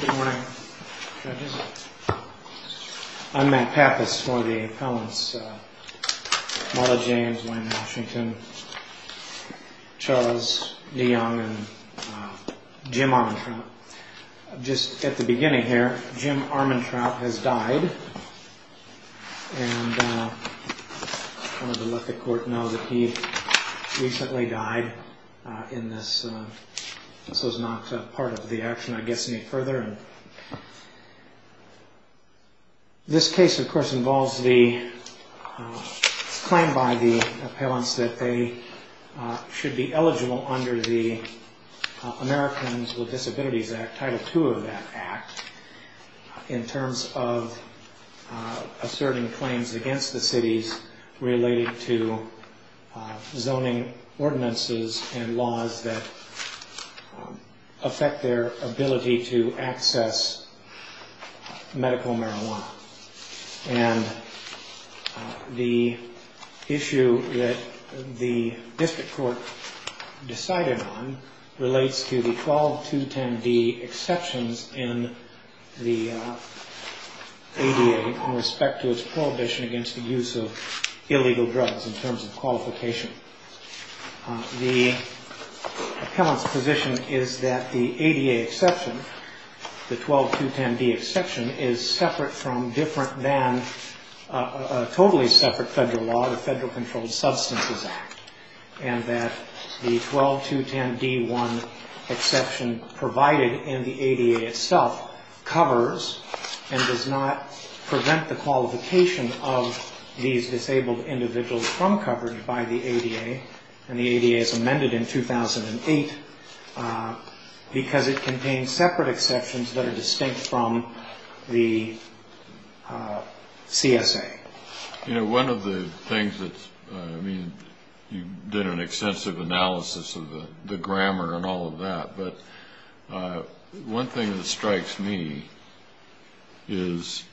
Good morning judges. I'm Matt Pappas, one of the appellants. Marla James, Wayne Washington, Charles DeYoung, and Jim Armantrout. Just at the beginning here, Jim Armantrout has died. I wanted to let the court know that he recently died in this. This was not part of the action I guess any further. This case of course involves the claim by the appellants that they should be eligible under the Americans with Disabilities Act, Title II of that act, in terms of asserting claims against the cities related to zoning ordinances and laws that affect their ability to access medical marijuana. And the issue that the district court decided on relates to the 12210D exceptions in the ADA in respect to its prohibition against the use of illegal drugs in terms of qualification. The appellant's position is that the ADA exception, the 12210D exception, is separate from different than a totally separate federal law, the Federal Controlled Substances Act. And that the 12210D exception provided in the ADA itself covers and does not prevent the qualification of these disabled individuals from coverage by the ADA. And the ADA is amended in 2008 because it contains separate exceptions that are distinct from the CSA. You know, one of the things that's, I mean, you did an extensive analysis of the grammar and all of that, but one thing that strikes me is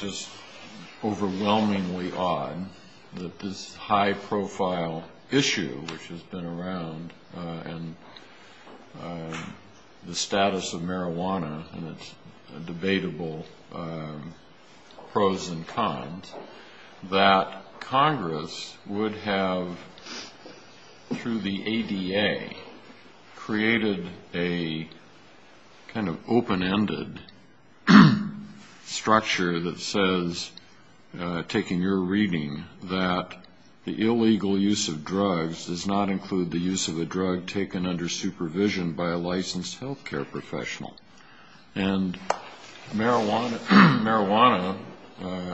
just overwhelmingly odd that this high profile issue which has been around and the status of marijuana and its debatable pros and cons, that Congress would have, through the ADA, created a kind of open-ended structure that says, taking your reading, that the illegal use of drugs does not include the use of a drug taken under supervision by a licensed health care professional. And marijuana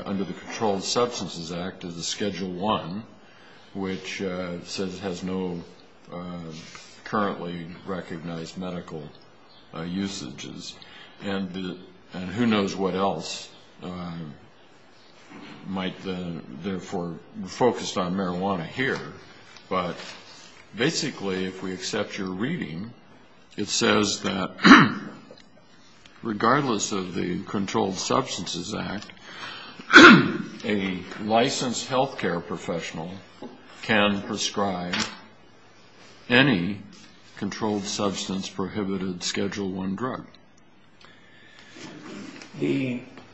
under the Controlled Substances Act is a Schedule I, which says it has no currently recognized medical usages. And who knows what else might therefore be focused on marijuana here. But basically, if we accept your reading, it says that regardless of the Controlled Substances Act, a licensed health care professional can prescribe any controlled substance prohibited Schedule I drug.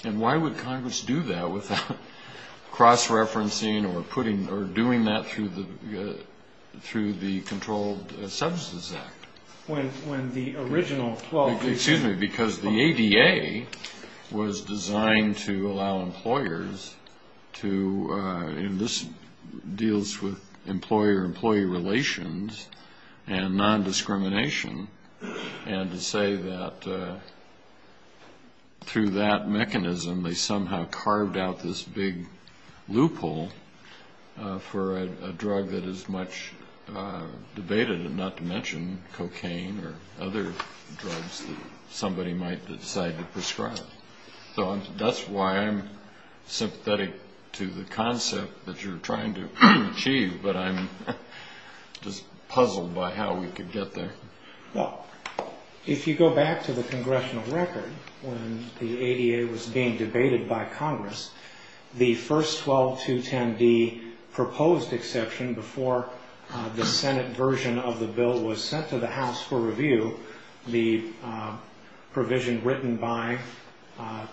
And why would Congress do that without cross-referencing or doing that through the Controlled Substances Act? Excuse me, because the ADA was designed to allow employers to, and this deals with employer-employee relations and non-discrimination, and to say that through that mechanism they somehow carved out this big loophole for a drug that is much debated, and not to mention cocaine. Or other drugs that somebody might decide to prescribe. So that's why I'm sympathetic to the concept that you're trying to achieve, but I'm just puzzled by how we could get there. Well, if you go back to the Congressional record, when the ADA was being debated by Congress, the first 12210D proposed exception before the Senate version of the bill was sent to the House for review, the provision written by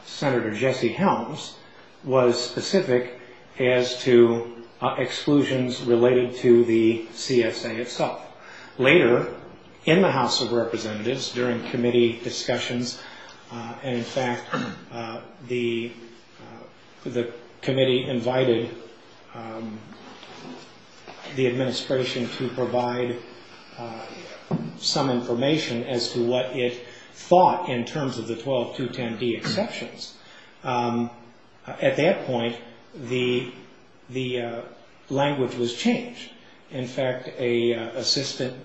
Senator Jesse Helms, was specific as to exclusions related to the CSA itself. Later, in the House of Representatives, during committee discussions, and in fact, the committee invited the administration to provide some information as to what it thought in terms of the 12210D exceptions. At that point, the language was changed. In fact, an assistant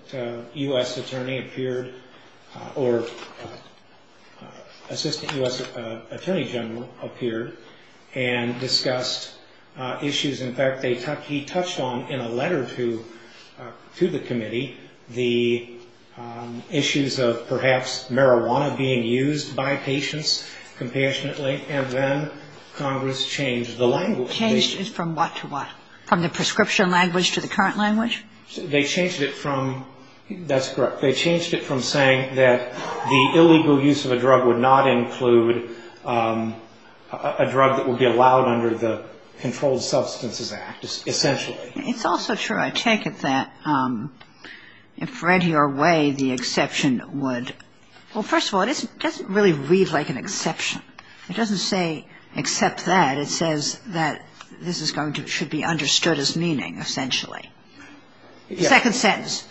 U.S. attorney general appeared and discussed issues. In fact, he touched on, in a letter to the committee, the issues of perhaps marijuana being used by patients, compassionately, and then Congress changed the language. Changed it from what to what? From the prescription language to the current language? They changed it from, that's correct, they changed it from saying that the illegal use of a drug would not include a drug that would be allowed under the Controlled Substances Act, essentially. It's also true, I take it, that if read your way, the exception would, well, first of all, it doesn't really read like an exception. It doesn't say except that. It says that this is going to, should be understood as meaning, essentially. Second sentence.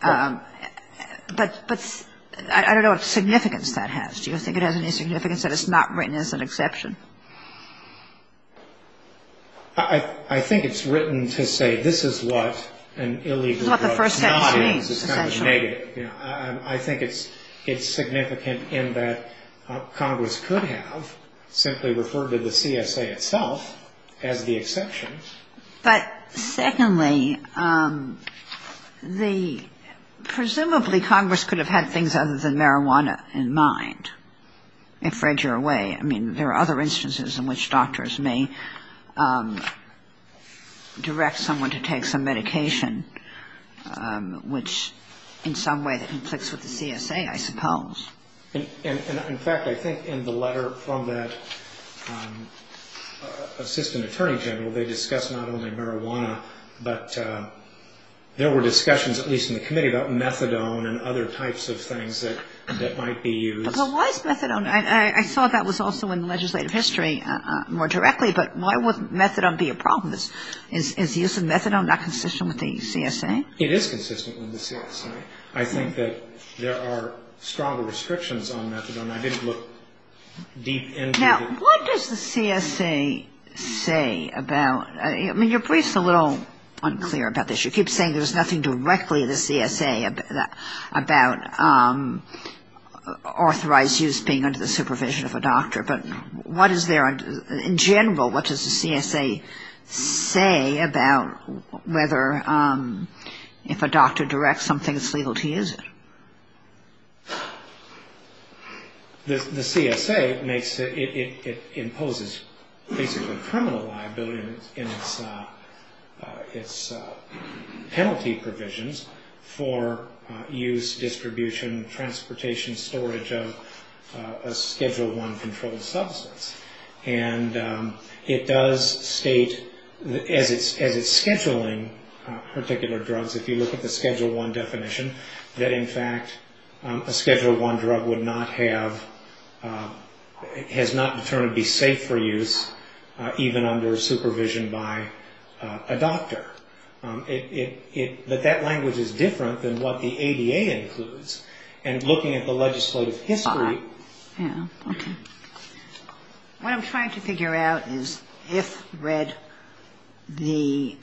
But I don't know what significance that has. Do you think it has any significance that it's not written as an exception? I think it's written to say this is what an illegal drug is not. This is what the first text means, essentially. It's kind of negative. I think it's significant in that Congress could have simply referred to the CSA itself as the exception. But secondly, the, presumably Congress could have had things other than marijuana in mind, if read your way. I mean, there are other instances in which doctors may direct someone to take some medication, which in some way conflicts with the CSA, I suppose. And in fact, I think in the letter from that assistant attorney general, they discuss not only marijuana, but there were discussions, at least in the committee, about methadone and other types of things that might be used. But why is methadone, I saw that was also in the legislative history more directly, but why would methadone be a problem? Is the use of methadone not consistent with the CSA? It is consistent with the CSA. I think that there are stronger restrictions on methadone. I didn't look deep into it. Now, what does the CSA say about, I mean, your brief's a little unclear about this. You keep saying there's nothing directly to the CSA about authorized use being under the supervision of a doctor. But what is there in general, what does the CSA say about whether if a doctor directs something, it's legal to use it? The CSA makes it, it imposes basically criminal liability in its penalty provisions for use, distribution, transportation, storage of a Schedule I controlled substance. And it does state, as it's scheduling particular drugs, if you look at the Schedule I definition, that in fact a Schedule I drug would not have, has not in turn to be safe for use even under supervision by a doctor. But that language is different than what the ADA includes. And looking at the legislative history. What I'm trying to figure out is if read the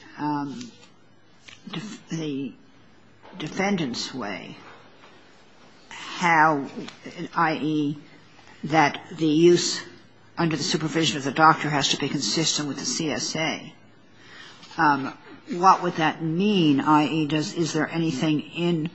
defendant's way, how, i.e., that the use under the supervision of the doctor has to be consistent with the CSA. What would that mean, i.e., is there anything in,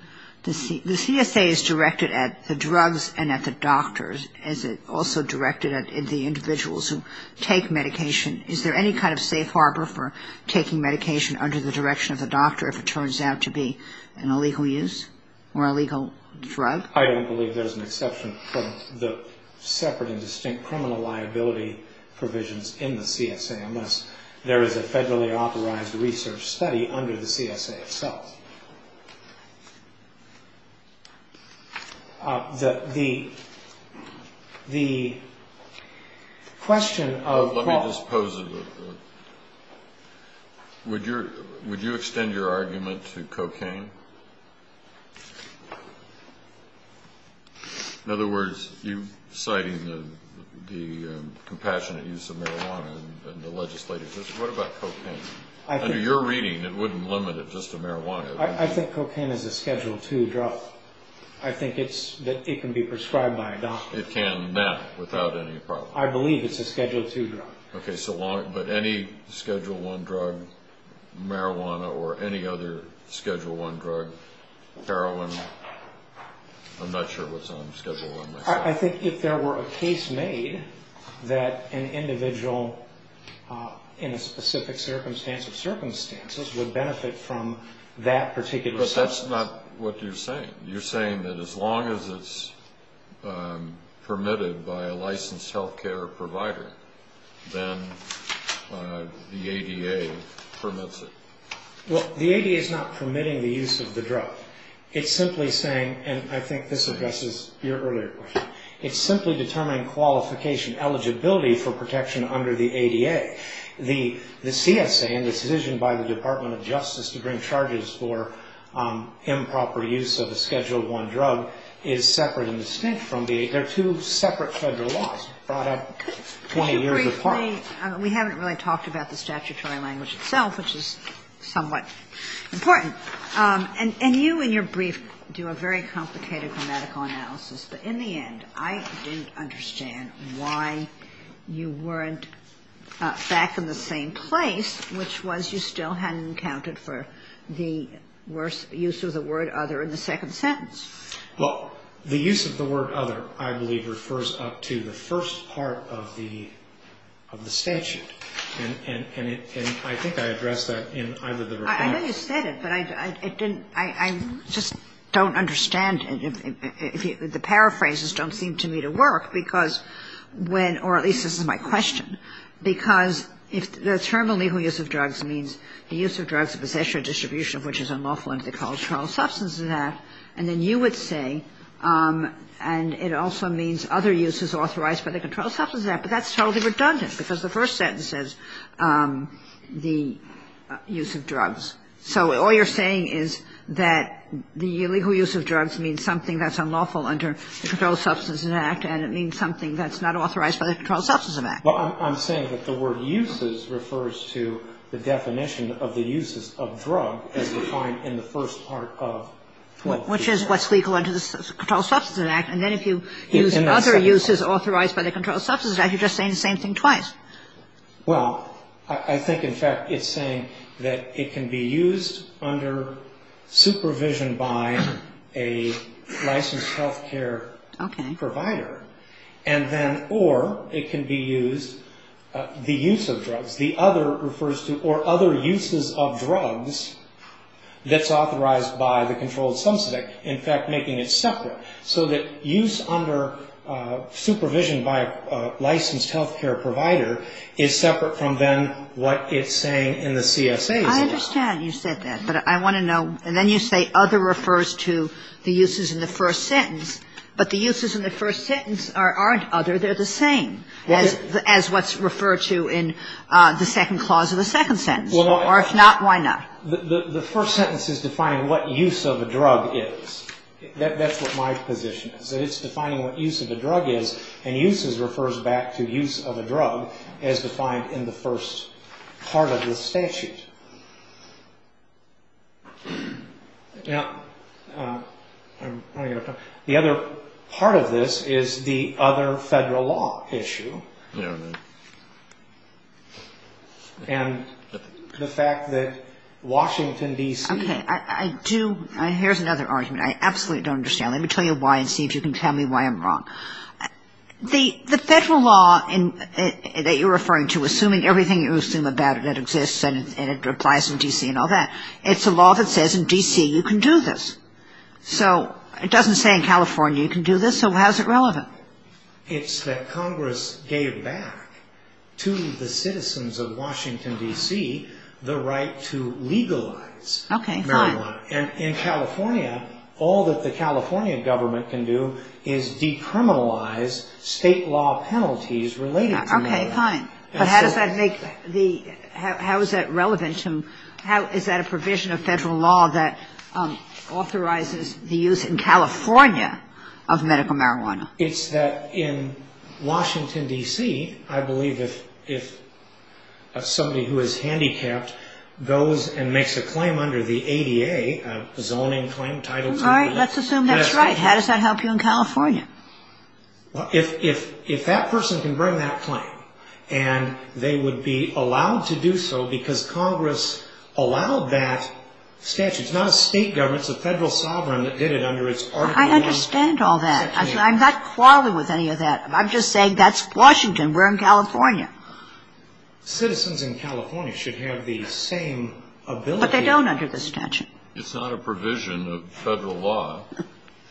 the CSA is directed at the drugs and at the doctor. Is it also directed at the individuals who take medication? Is there any kind of safe harbor for taking medication under the direction of the doctor if it turns out to be an illegal use or illegal drug? I don't believe there's an exception from the separate and distinct criminal liability provisions in the CSA, unless there is a federally authorized research study under the CSA itself. The question of... Let me just pose it. Would you extend your argument to cocaine? In other words, you citing the compassionate use of marijuana in the legislative history. What about cocaine? Under your reading, it wouldn't limit it just to marijuana. I think cocaine is a Schedule II drug. I think it can be prescribed by a doctor. It can now, without any problem. I believe it's a Schedule II drug. Okay, but any Schedule I drug, marijuana, or any other Schedule I drug, heroin, I'm not sure what's on Schedule I. I think if there were a case made that an individual in a specific circumstance or circumstances would benefit from that particular substance... But that's not what you're saying. You're saying that as long as it's permitted by a licensed health care provider, then the ADA permits it. Well, the ADA is not permitting the use of the drug. It's simply saying, and I think this addresses your earlier question, it's simply determining qualification, eligibility for protection under the ADA. The CSA and the decision by the Department of Justice to bring charges for improper use of a Schedule I drug is separate and distinct from the... They're two separate federal laws brought up 20 years apart. Could you briefly... We haven't really talked about the statutory language itself, which is somewhat important. And you, in your brief, do a very complicated grammatical analysis, but in the end, I didn't understand why you weren't back in the same place, which was you still hadn't accounted for the use of the word other in the second sentence. Well, the use of the word other, I believe, refers up to the first part of the statute. And I think I addressed that in either the report... I know you said it, but I just don't understand. The paraphrases don't seem to me to work, because when, or at least this is my question, because the term illegal use of drugs means the use of drugs of possession or distribution of which is unlawful under the controlled substance of that. And then you would say, and it also means other uses authorized by the controlled substance of that. But that's totally redundant, because the first sentence says the use of drugs. So all you're saying is that the illegal use of drugs means something that's unlawful under the Controlled Substance Abuse Act, and it means something that's not authorized by the Controlled Substance Abuse Act. Well, I'm saying that the word uses refers to the definition of the uses of drug as defined in the first part of the statute. Which is what's legal under the Controlled Substance Abuse Act. And then if you use other uses authorized by the Controlled Substance Abuse Act, you're just saying the same thing twice. Well, I think, in fact, it's saying that it can be used under supervision by a licensed health care provider. And then, or it can be used, the use of drugs. The other refers to, or other uses of drugs that's authorized by the Controlled Substance Abuse Act. In fact, making it separate. So that use under supervision by a licensed health care provider is separate from then what it's saying in the CSA's law. I understand you said that. But I want to know, and then you say other refers to the uses in the first sentence. But the uses in the first sentence aren't other. They're the same as what's referred to in the second clause of the second sentence. Or if not, why not? The first sentence is defining what use of a drug is. That's what my position is. It's defining what use of a drug is. And uses refers back to use of a drug as defined in the first part of the statute. The other part of this is the other federal law issue. And the fact that Washington, D.C. Okay. I do. Here's another argument. I absolutely don't understand. Let me tell you why and see if you can tell me why I'm wrong. The federal law that you're referring to, assuming everything you assume about it that exists and it applies in D.C. and all that, it's a law that says in D.C. you can do this. So how is it relevant? It's that Congress gave back to the citizens of Washington, D.C., the right to legalize marijuana. Okay, fine. And in California, all that the California government can do is decriminalize state law penalties related to marijuana. Okay, fine. But how does that make the how is that relevant to how is that a provision of federal law that authorizes the use in California of medical marijuana? It's that in Washington, D.C., I believe if somebody who is handicapped goes and makes a claim under the ADA, a zoning claim, Title II. All right, let's assume that's right. How does that help you in California? Well, if that person can bring that claim and they would be allowed to do so because Congress allowed that statute. It's not a state government. It's a federal sovereign that did it under its Article I. I understand all that. I'm not quarreling with any of that. I'm just saying that's Washington. We're in California. Citizens in California should have the same ability. But they don't under the statute. It's not a provision of federal law.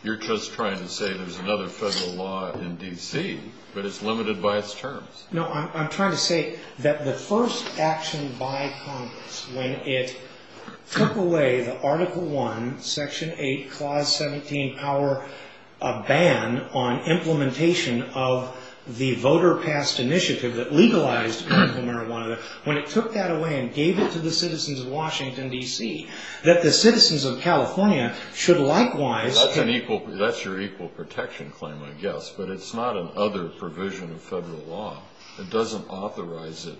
You're just trying to say there's another federal law in D.C., but it's limited by its terms. No, I'm trying to say that the first action by Congress when it took away the Article I, Section 8, Clause 17 power ban on implementation of the voter-passed initiative that legalized medical marijuana, when it took that away and gave it to the citizens of Washington, D.C., that the citizens of California should likewise... That's your equal protection claim, I guess, but it's not another provision of federal law. It doesn't authorize it.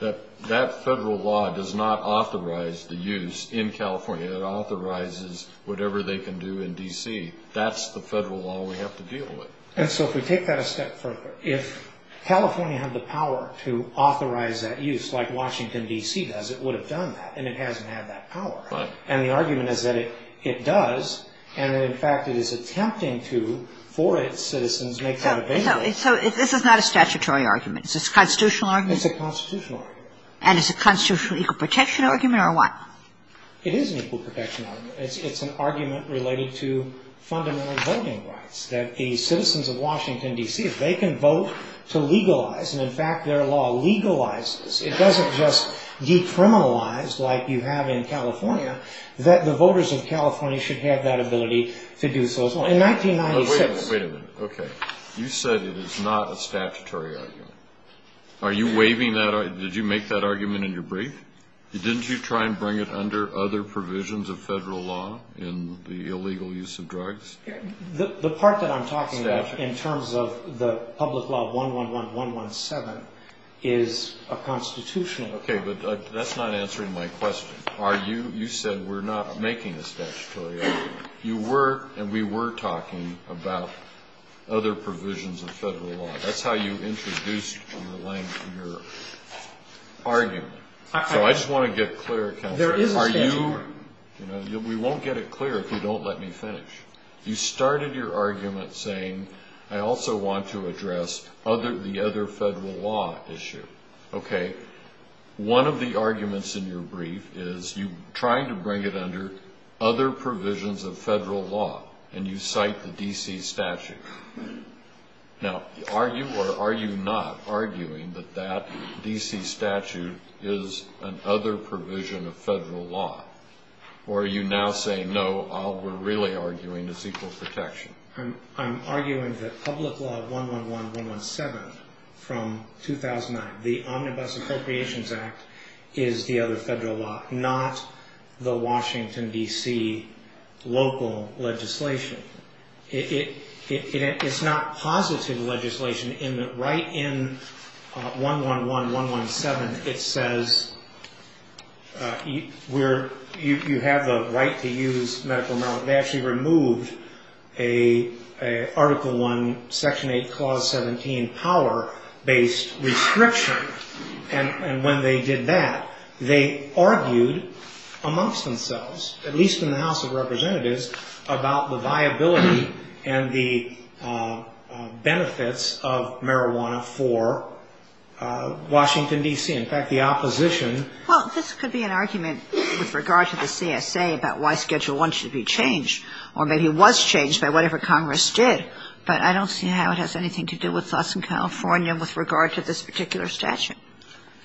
That federal law does not authorize the use in California. It authorizes whatever they can do in D.C. That's the federal law we have to deal with. And so if we take that a step further, if California had the power to authorize that use like Washington, D.C. does, it would have done that, and it hasn't had that power. Right. And the argument is that it does, and that, in fact, it is attempting to, for its citizens, make that available. So this is not a statutory argument. It's a constitutional argument? It's a constitutional argument. And it's a constitutional equal protection argument, or what? It is an equal protection argument. It's an argument related to fundamental voting rights, that the citizens of Washington, D.C., if they can vote to legalize, and, in fact, their law legalizes, it doesn't just decriminalize, like you have in California, that the voters of California should have that ability to do so. In 1996 — Wait a minute. Okay. You said it is not a statutory argument. Are you waiving that? Did you make that argument in your brief? Didn't you try and bring it under other provisions of federal law in the illegal use of drugs? The part that I'm talking about in terms of the public law of 111-117 is a constitutional argument. Okay. But that's not answering my question. Are you — you said we're not making this statutory argument. You were, and we were talking about other provisions of federal law. That's how you introduced your argument. So I just want to get clear, Counselor. There is a statutory argument. We won't get it clear if you don't let me finish. You started your argument saying, I also want to address the other federal law issue. Okay. One of the arguments in your brief is you're trying to bring it under other provisions of federal law, and you cite the D.C. statute. Now, are you or are you not arguing that that D.C. statute is another provision of federal law? Or are you now saying, no, all we're really arguing is equal protection? I'm arguing that public law 111-117 from 2009, the Omnibus Appropriations Act, is the other federal law, not the Washington, D.C., local legislation. It's not positive legislation in that right in 111-117, it says you have the right to use medical marijuana. They actually removed an Article I, Section 8, Clause 17 power-based restriction. And when they did that, they argued amongst themselves, at least in the House of Representatives, about the viability and the benefits of marijuana for Washington, D.C. In fact, the opposition — Well, this could be an argument with regard to the CSA about why Schedule I should be changed, or maybe it was changed by whatever Congress did, but I don't see how it has anything to do with us in California with regard to this particular statute.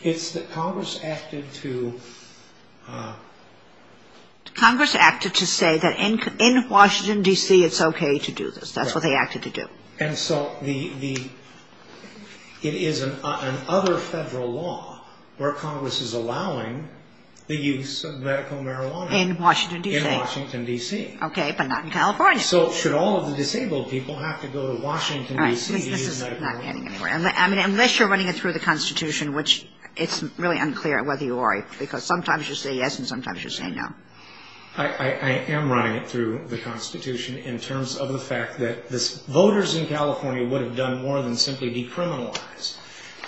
It's that Congress acted to — Congress acted to say that in Washington, D.C., it's okay to do this. That's what they acted to do. And so it is an other federal law where Congress is allowing the use of medical marijuana. In Washington, D.C. Okay, but not in California. So should all of the disabled people have to go to Washington, D.C. to use medical marijuana? All right, this is not getting anywhere. I mean, unless you're running it through the Constitution, which it's really unclear whether you are, because sometimes you say yes and sometimes you say no. I am running it through the Constitution in terms of the fact that voters in California would have done more than simply decriminalize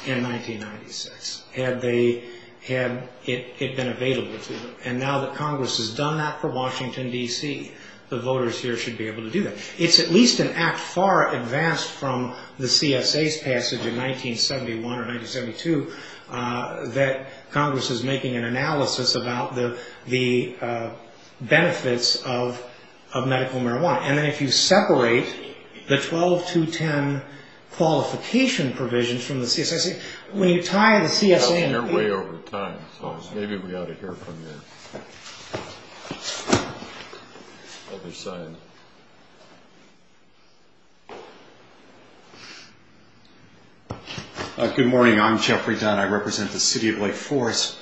in 1996 had they — had it been available to them. And now that Congress has done that for Washington, D.C., the voters here should be able to do that. It's at least an act far advanced from the CSA's passage in 1971 or 1972 that Congress is making an analysis about the benefits of medical marijuana. And then if you separate the 12.210 qualification provisions from the CSA — When you tie the CSA — I was here way over time, so maybe we ought to hear from the other side. Good morning, I'm Jeffrey Dunn. I represent the city of Lake Forest.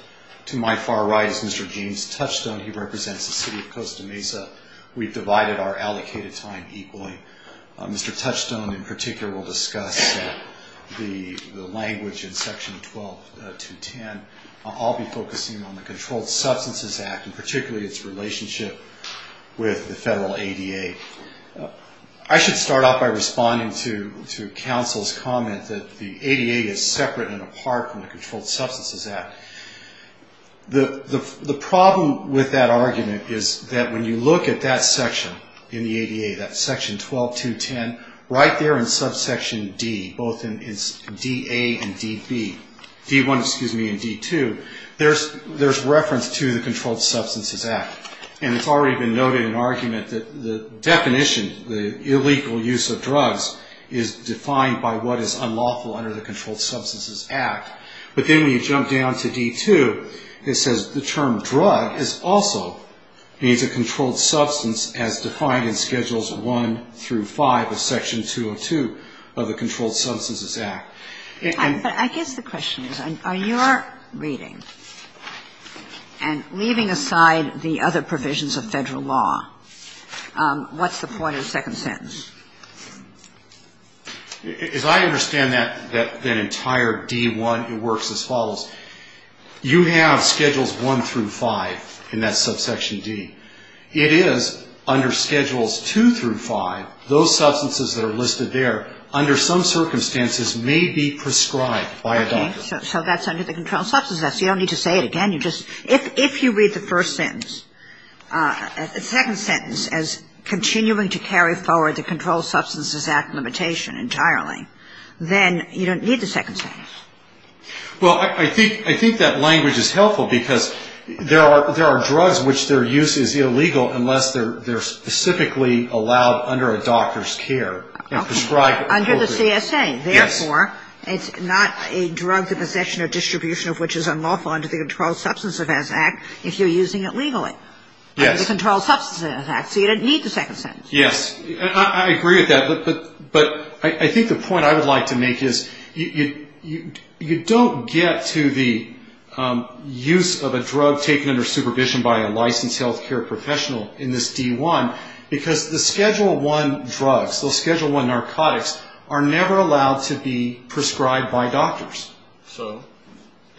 To my far right is Mr. James Touchstone. He represents the city of Costa Mesa. We've divided our allocated time equally. Mr. Touchstone in particular will discuss the language in section 12.210. I'll be focusing on the Controlled Substances Act, and particularly its relationship with the federal ADA. I should start off by responding to counsel's comment that the ADA is separate and apart from the Controlled Substances Act. The problem with that argument is that when you look at that section in the ADA, that section 12.210, right there in subsection D, both in D.A. and D.B. — D.1, excuse me, and D.2 — there's reference to the Controlled Substances Act. And it's already been noted in argument that the definition, the illegal use of drugs is defined by what is unlawful under the Controlled Substances Act. But then when you jump down to D.2, it says the term drug also means a controlled substance as defined in Schedules I through V of Section 202 of the Controlled Substances Act. But I guess the question is, are your reading and leaving aside the other provisions of federal law, what's the point of the second sentence? As I understand that entire D.1, it works as follows. You have Schedules I through V in that subsection D. It is under Schedules II through V, those substances that are listed there, under some circumstances may be prescribed by a doctor. Okay. So that's under the Controlled Substances Act. So you don't need to say it again. If you read the first sentence, the second sentence, as continuing to carry forward the Controlled Substances Act limitation entirely, then you don't need the second sentence. Well, I think that language is helpful because there are drugs which their use is illegal unless they're specifically allowed under a doctor's care and prescribed appropriately. Okay. Under the CSA. Yes. Therefore, it's not a drug to possession or distribution of which is unlawful under the Controlled Substances Act if you're using it legally. Yes. Under the Controlled Substances Act. So you don't need the second sentence. Yes. I agree with that. But I think the point I would like to make is you don't get to the use of a drug taken under supervision by a licensed health care professional in this D1 because the Schedule I drugs, those Schedule I narcotics are never allowed to be prescribed by doctors. So?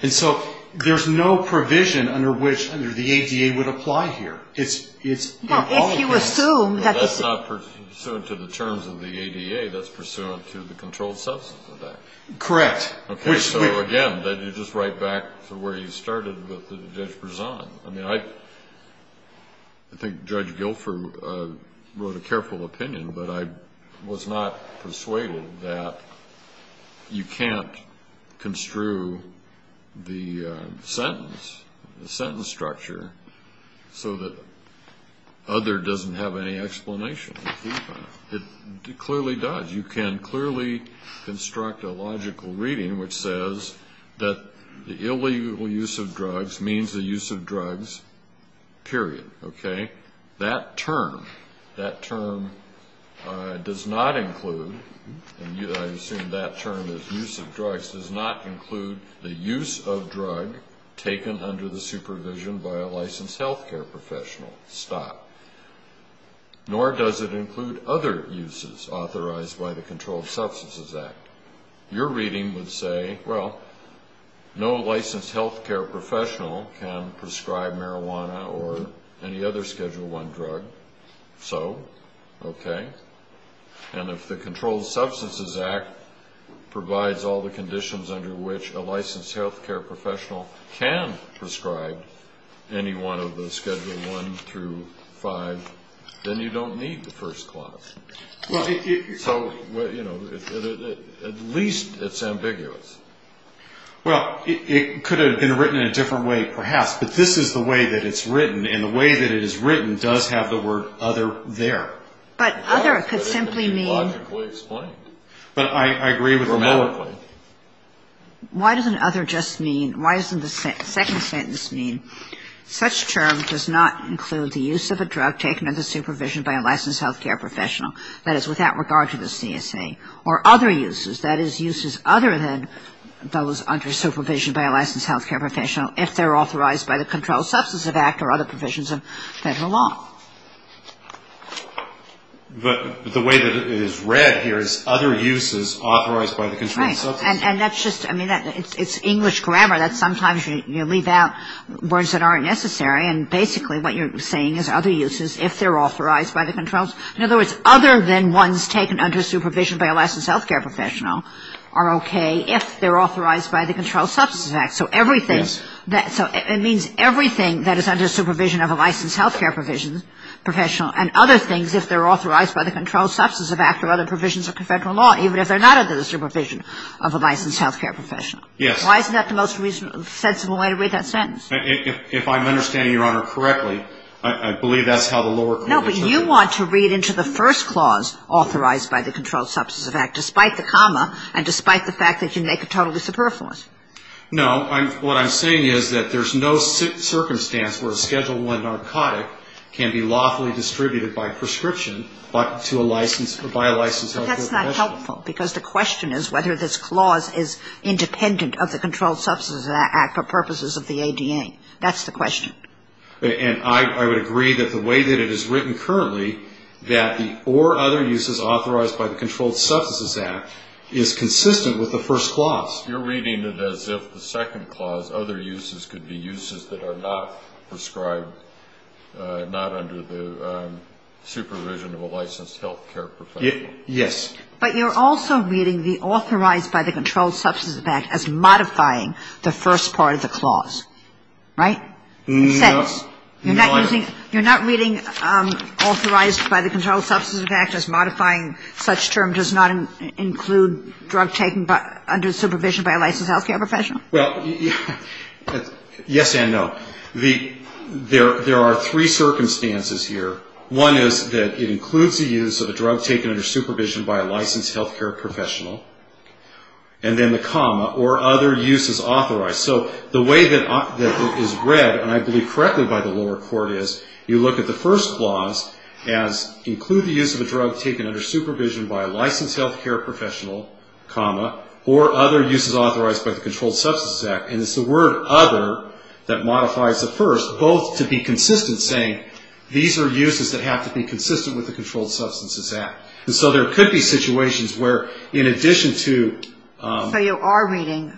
And so there's no provision under which the ADA would apply here. Well, if you assume that this is... Well, that's not pursuant to the terms of the ADA. That's pursuant to the Controlled Substances Act. Correct. Okay. So again, you just write back to where you started with Judge Berzon. I mean, I think Judge Guilford wrote a careful opinion, but I was not persuaded that you can't construe the sentence, the sentence structure, so that other doesn't have any explanation. It clearly does. You can clearly construct a logical reading which says that the illegal use of drugs means the use of drugs, period. Okay? That term, that term does not include, and I assume that term is use of drugs, does not include the use of drug taken under the supervision by a licensed health care professional. Stop. Nor does it include other uses authorized by the Controlled Substances Act. Your reading would say, well, no licensed health care professional can prescribe marijuana or any other Schedule I drug. So? Okay. And if the Controlled Substances Act provides all the conditions under which a licensed health care professional can prescribe any one of the Schedule I through V, then you don't need the first clause. Well, if you're telling me... So, you know, at least it's ambiguous. Well, it could have been written in a different way, perhaps. But this is the way that it's written, and the way that it is written does have the word other there. But other could simply mean... Logically explained. But I agree with you. Grammatically. Why doesn't other just mean, why doesn't the second sentence mean, such term does not include the use of a drug taken under supervision by a licensed health care professional, that is, without regard to the CSA, or other uses, that is, uses other than those under supervision by a licensed health care professional, if they're authorized by the Controlled Substances Act or other provisions of federal law. But the way that it is read here is other uses authorized by the Controlled Substances Act. Right. And that's just, I mean, it's English grammar that sometimes you leave out words that aren't necessary. And basically what you're saying is other uses if they're authorized by the Controlled... In other words, other than ones taken under supervision by a licensed health care professional are okay if they're authorized by the Controlled Substances Act. So everything... Yes. So it means everything that is under supervision of a licensed health care professional and other things if they're authorized by the Controlled Substances Act or other provisions of federal law, even if they're not under the supervision of a licensed health care professional. Yes. Why isn't that the most reasonable, sensible way to read that sentence? If I'm understanding Your Honor correctly, I believe that's how the lower... No, but you want to read into the first clause authorized by the Controlled Substances Act, despite the comma and despite the fact that you make a totally superfluous. No. What I'm saying is that there's no circumstance where a Schedule I narcotic can be lawfully distributed by prescription but to a licensed or by a licensed health care professional. But that's not helpful because the question is whether this clause is independent of the Controlled Substances Act for purposes of the ADA. That's the question. And I would agree that the way that it is written currently that the or other uses authorized by the Controlled Substances Act is consistent with the first clause. You're reading it as if the second clause, other uses, could be uses that are not prescribed not under the supervision of a licensed health care professional. Yes. But you're also reading the authorized by the Controlled Substances Act as modifying the first part of the clause, right? No. You're not using, you're not reading authorized by the Controlled Substances Act as modifying such term does not include drug taken under supervision by a licensed health care professional? Well, yes and no. There are three circumstances here. One is that it includes the use of a drug taken under supervision by a licensed health care professional. And then the comma or other uses authorized. So the way that it is read, and I believe correctly by the lower court, is you look at the first clause as include the use of a drug taken under supervision by a licensed health care professional, comma, or other uses authorized by the Controlled Substances Act. And it's the word other that modifies the first, both to be consistent, saying these are uses that have to be consistent with the Controlled Substances Act. And so there could be situations where, in addition to ---- You're reading,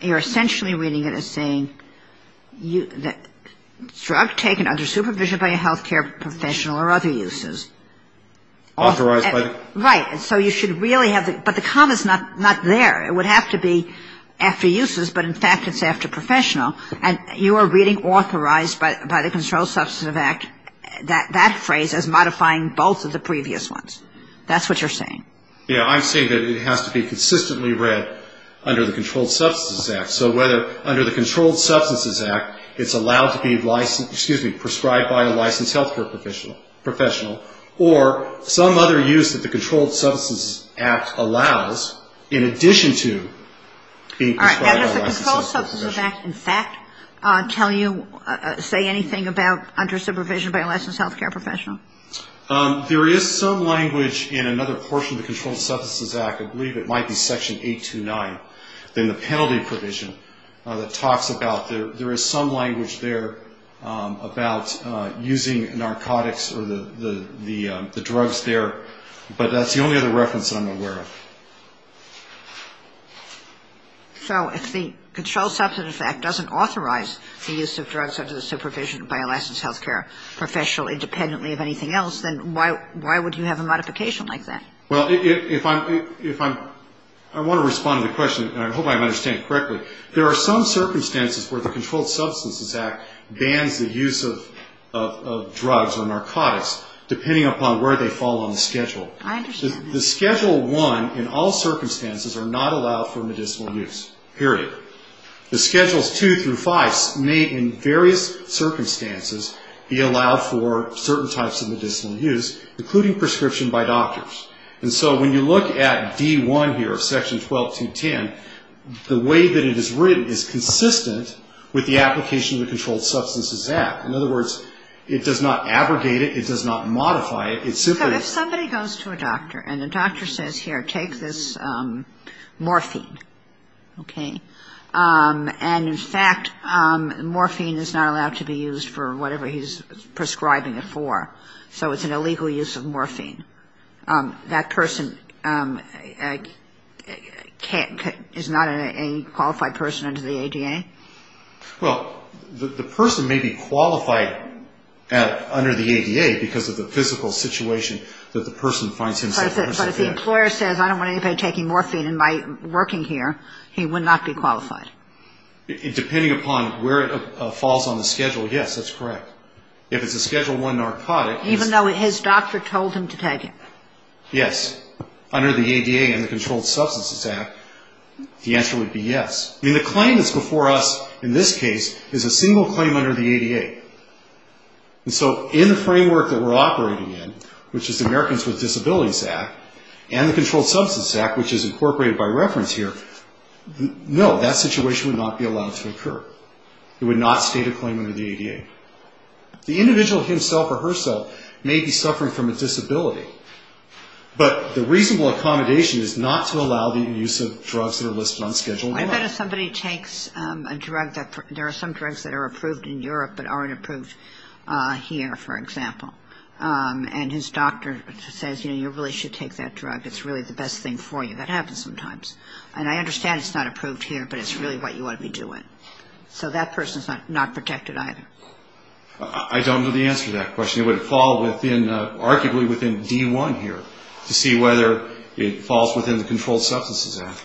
you're essentially reading it as saying drug taken under supervision by a health care professional or other uses. Authorized by the ---- Right. So you should really have the, but the comma is not there. It would have to be after uses, but in fact it's after professional. And you are reading authorized by the Controlled Substances Act, that phrase as modifying both of the previous ones. That's what you're saying. Yeah. I'm saying that it has to be consistently read under the Controlled Substances Act. So whether under the Controlled Substances Act it's allowed to be licensed, excuse me, prescribed by a licensed health care professional, or some other use that the Controlled Substances Act allows in addition to being prescribed by a licensed health care professional. All right. And does the Controlled Substances Act in fact tell you, say anything about under supervision by a licensed health care professional? There is some language in another portion of the Controlled Substances Act, I believe it might be section 829, in the penalty provision that talks about there is some language there about using narcotics or the drugs there, but that's the only other reference that I'm aware of. So if the Controlled Substances Act doesn't authorize the use of drugs under the Controlled Substances Act, then why would you have a modification like that? Well, if I'm, I want to respond to the question, and I hope I'm understanding correctly. There are some circumstances where the Controlled Substances Act bans the use of drugs or narcotics, depending upon where they fall on the schedule. I understand. The Schedule 1 in all circumstances are not allowed for medicinal use, period. The Schedules 2 through 5 may in various circumstances be allowed for certain types of medicinal use, including prescription by doctors. And so when you look at D1 here, Section 12210, the way that it is written is consistent with the application of the Controlled Substances Act. In other words, it does not abrogate it. It does not modify it. It simply goes to a doctor, and the doctor says, here, take this morphine, okay? And in fact, morphine is not allowed to be used for whatever he's prescribing it for. So it's an illegal use of morphine. That person is not a qualified person under the ADA? Well, the person may be qualified under the ADA because of the physical situation that the person finds himself in. But if the employer says, I don't want anybody taking morphine, and by working here, he would not be qualified. Depending upon where it falls on the schedule, yes, that's correct. If it's a Schedule 1 narcotic. Even though his doctor told him to take it. Yes. Under the ADA and the Controlled Substances Act, the answer would be yes. I mean, the claim that's before us in this case is a single claim under the ADA. And so in the framework that we're operating in, which is the Americans with No, that situation would not be allowed to occur. It would not state a claim under the ADA. The individual himself or herself may be suffering from a disability. But the reasonable accommodation is not to allow the use of drugs that are listed on Schedule 1. I bet if somebody takes a drug, there are some drugs that are approved in Europe but aren't approved here, for example. And his doctor says, you know, you really should take that drug. It's really the best thing for you. That happens sometimes. And I understand it's not approved here, but it's really what you want to be doing. So that person is not protected either. I don't know the answer to that question. It would fall within, arguably, within D1 here, to see whether it falls within the Controlled Substances Act.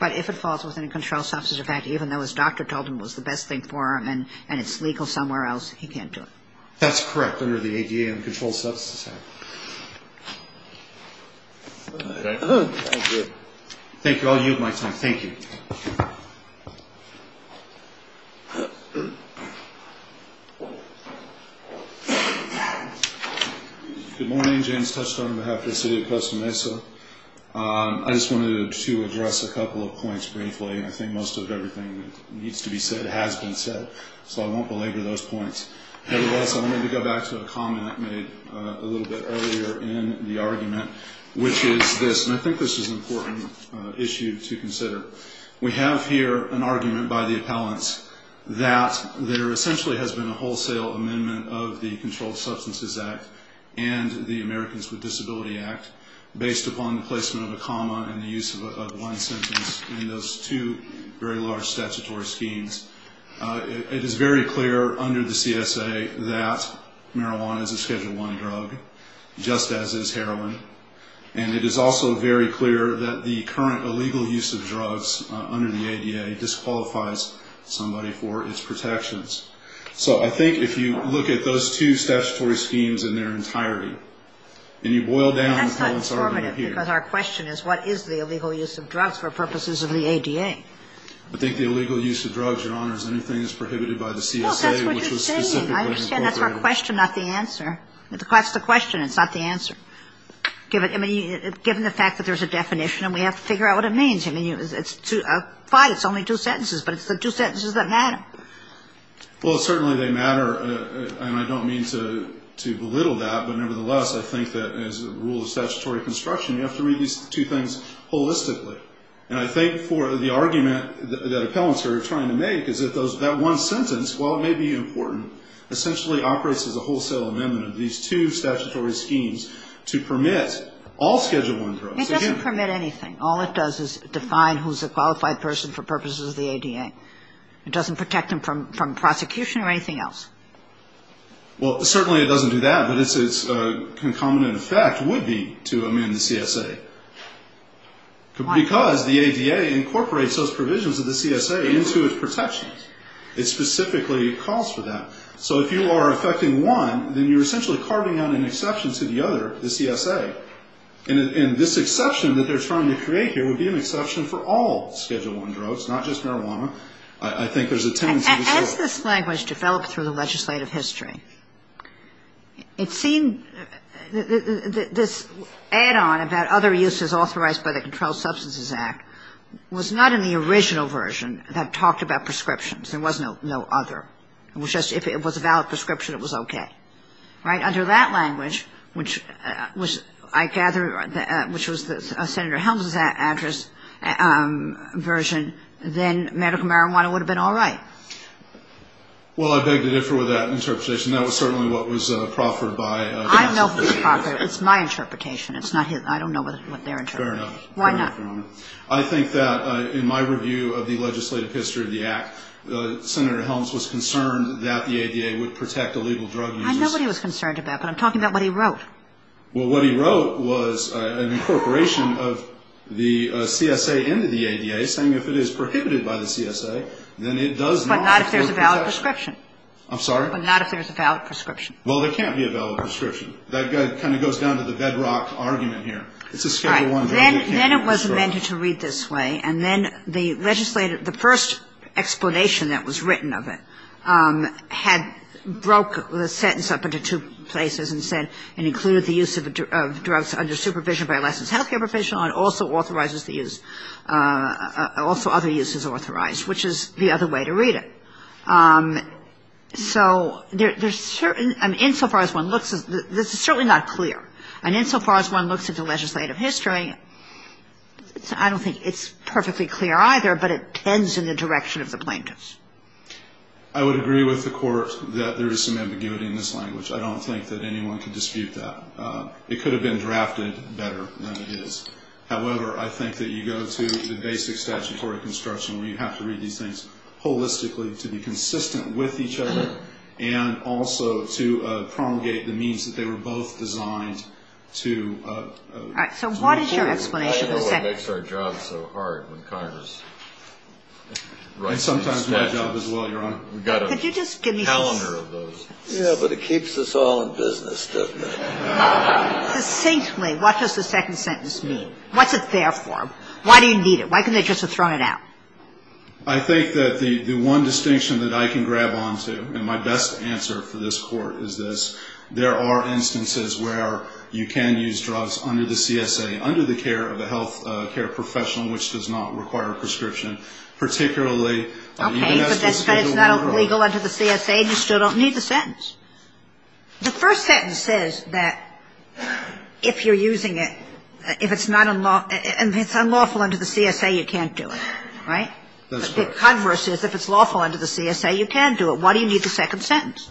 But if it falls within the Controlled Substances Act, even though his doctor told him it was the best thing for him and it's legal somewhere else, he can't do it. That's correct under the ADA and the Controlled Substances Act. Thank you. Thank you. I'll yield my time. Thank you. Good morning. James Touchstone on behalf of the city of Costa Mesa. I just wanted to address a couple of points briefly. I think most of everything that needs to be said has been said, so I won't belabor those points. I also wanted to go back to a comment made a little bit earlier in the argument, which is this, and I think this is an important issue to consider. We have here an argument by the appellants that there essentially has been a wholesale amendment of the Controlled Substances Act and the Americans with Disability Act, based upon the placement of a comma and the use of a blind sentence in those two very large statutory schemes. It is very clear under the CSA that marijuana is a Schedule I drug, just as is heroin, and it is also very clear that the current illegal use of drugs under the ADA disqualifies somebody for its protections. So I think if you look at those two statutory schemes in their entirety and you boil down the points that are made here. That's not informative because our question is, what is the illegal use of drugs for purposes of the ADA? I think the illegal use of drugs, Your Honors, anything is prohibited by the CSA, which was specifically incorporated. Well, that's what you're saying. I understand that's our question, not the answer. That's the question. It's not the answer. I mean, given the fact that there's a definition and we have to figure out what it means. I mean, fine, it's only two sentences, but it's the two sentences that matter. Well, certainly they matter, and I don't mean to belittle that, but nevertheless I think that as a rule of statutory construction, you have to read these two things holistically. And I think for the argument that appellants are trying to make is that that one sentence, while it may be important, essentially operates as a wholesale amendment of these two statutory schemes to permit all Schedule I drugs. It doesn't permit anything. All it does is define who's a qualified person for purposes of the ADA. It doesn't protect them from prosecution or anything else. Well, certainly it doesn't do that, but its concomitant effect would be to amend the CSA. Why not? Because the ADA incorporates those provisions of the CSA into its protections. It specifically calls for that. So if you are affecting one, then you're essentially carving out an exception to the other, the CSA. And this exception that they're trying to create here would be an exception for all Schedule I drugs, not just marijuana. I think there's a tendency to do it. As this language developed through the legislative history, it seemed this add-on about other uses authorized by the Controlled Substances Act was not in the original version that talked about prescriptions. There was no other. It was just if it was a valid prescription, it was okay. Right? Under that language, which I gather, which was Senator Helms' address version, then medical marijuana would have been all right. Well, I beg to differ with that interpretation. That was certainly what was proffered by the CSA. I know what was proffered. It's my interpretation. It's not his. I don't know what they're interpreting. Fair enough. Why not? I think that in my review of the legislative history of the Act, Senator Helms was concerned that the ADA would protect illegal drug users. I know what he was concerned about, but I'm talking about what he wrote. Well, what he wrote was an incorporation of the CSA into the ADA, saying if it is prohibited by the CSA, then it does not afford protection. But not if there's a valid prescription. I'm sorry? But not if there's a valid prescription. Well, there can't be a valid prescription. That kind of goes down to the bedrock argument here. It's a Schedule I drug. All right. Then it was amended to read this way, and then the first explanation that was written of it had broke the sentence up into two places and said it included the use of drugs under supervision by a licensed healthcare professional and also other uses authorized, which is the other way to read it. So there's certain – I mean, insofar as one looks, this is certainly not clear. And insofar as one looks at the legislative history, I don't think it's perfectly clear either, but it tends in the direction of the plaintiffs. I would agree with the Court that there is some ambiguity in this language. I don't think that anyone can dispute that. It could have been drafted better than it is. However, I think that you go to the basic statutory construction where you have to read these things holistically to be consistent with each other and also to promulgate the means that they were both designed to. All right. So what is your explanation of the sentence? I don't know what makes our job so hard when Congress writes these statutes. And sometimes my job as well, Your Honor. We've got a calendar of those. Yeah, but it keeps us all in business, doesn't it? Succinctly, what does the second sentence mean? What's it there for? Why do you need it? Why couldn't they just have thrown it out? I think that the one distinction that I can grab onto, and my best answer for this Court is this. There are instances where you can use drugs under the CSA, under the care of a health care professional which does not require a prescription, particularly if you have to speak to a lawyer. Okay, but that's because it's not legal under the CSA and you still don't need the sentence. The first sentence says that if you're using it, if it's unlawful under the CSA, you can't do it, right? That's correct. But the converse is if it's lawful under the CSA, you can do it. Why do you need the second sentence?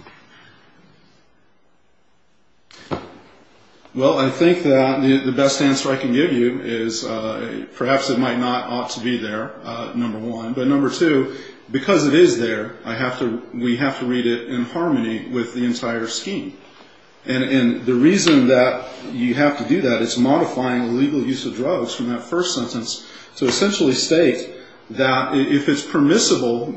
Well, I think that the best answer I can give you is perhaps it might not ought to be there, number one. But number two, because it is there, I have to, we have to read it in harmony with the entire scheme. And the reason that you have to do that is modifying the legal use of drugs from that first sentence to essentially state that if it's permissible,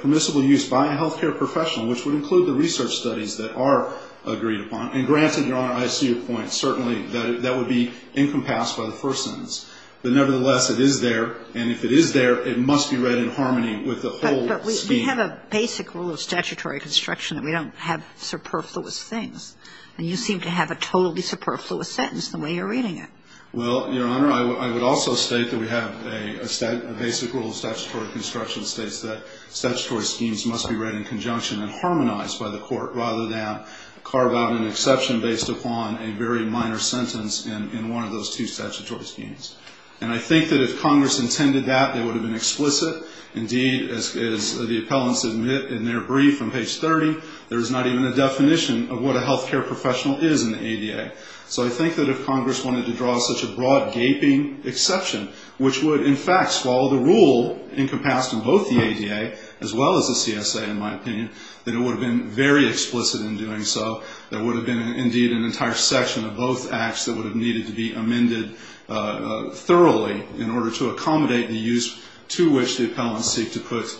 permissible use by a health care professional, which would include the research studies that are agreed upon, and granted, Your Honor, I see your point. Certainly that would be incompassible in the first sentence. But nevertheless, it is there. And if it is there, it must be read in harmony with the whole scheme. But we have a basic rule of statutory construction that we don't have superfluous things. And you seem to have a totally superfluous sentence the way you're reading it. Well, Your Honor, I would also state that we have a basic rule of statutory construction that states that statutory schemes must be read in conjunction and harmonized by the court rather than carve out an exception based upon a very minor sentence in one of those two statutory schemes. And I think that if Congress intended that, it would have been explicit. Indeed, as the appellants admit in their brief on page 30, there is not even a definition of what a health care professional is in the ADA. So I think that if Congress wanted to draw such a broad gaping exception, which would, in fact, swallow the rule encompassed in both the ADA as well as the CSA, in my opinion, that it would have been very explicit in doing so. There would have been, indeed, an entire section of both acts that would have needed to be amended thoroughly in order to accommodate the use to which the appellants seek to put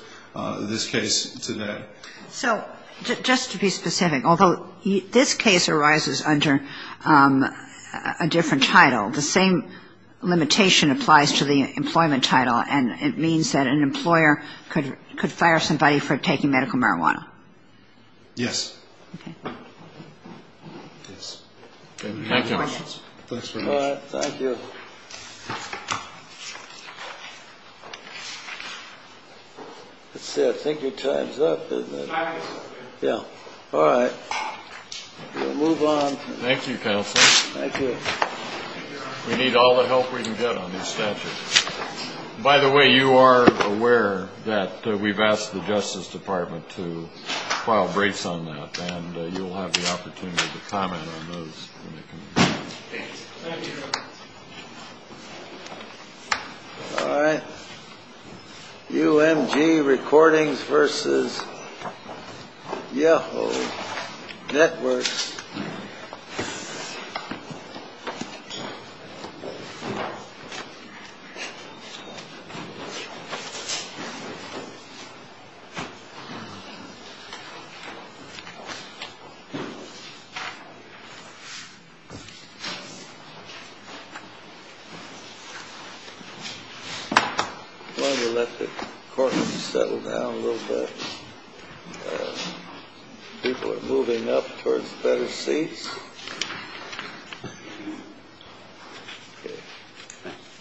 this case today. So just to be specific, although this case arises under a different title, the same limitation applies to the employment title, and it means that an employer could fire somebody for taking medical marijuana. Yes. Okay. Thank you. All right. Thank you. Let's see. I think your time's up, isn't it? Yeah. All right. We'll move on. Thank you, counsel. Thank you. We need all the help we can get on this statute. By the way, you are aware that we've asked the Justice Department to file breaks on that, and you will have the opportunity to comment on those. Thank you. All right. UMG Recordings v. Yeho Networks. Thank you. I'm going to let the court settle down a little bit. People are moving up towards better seats.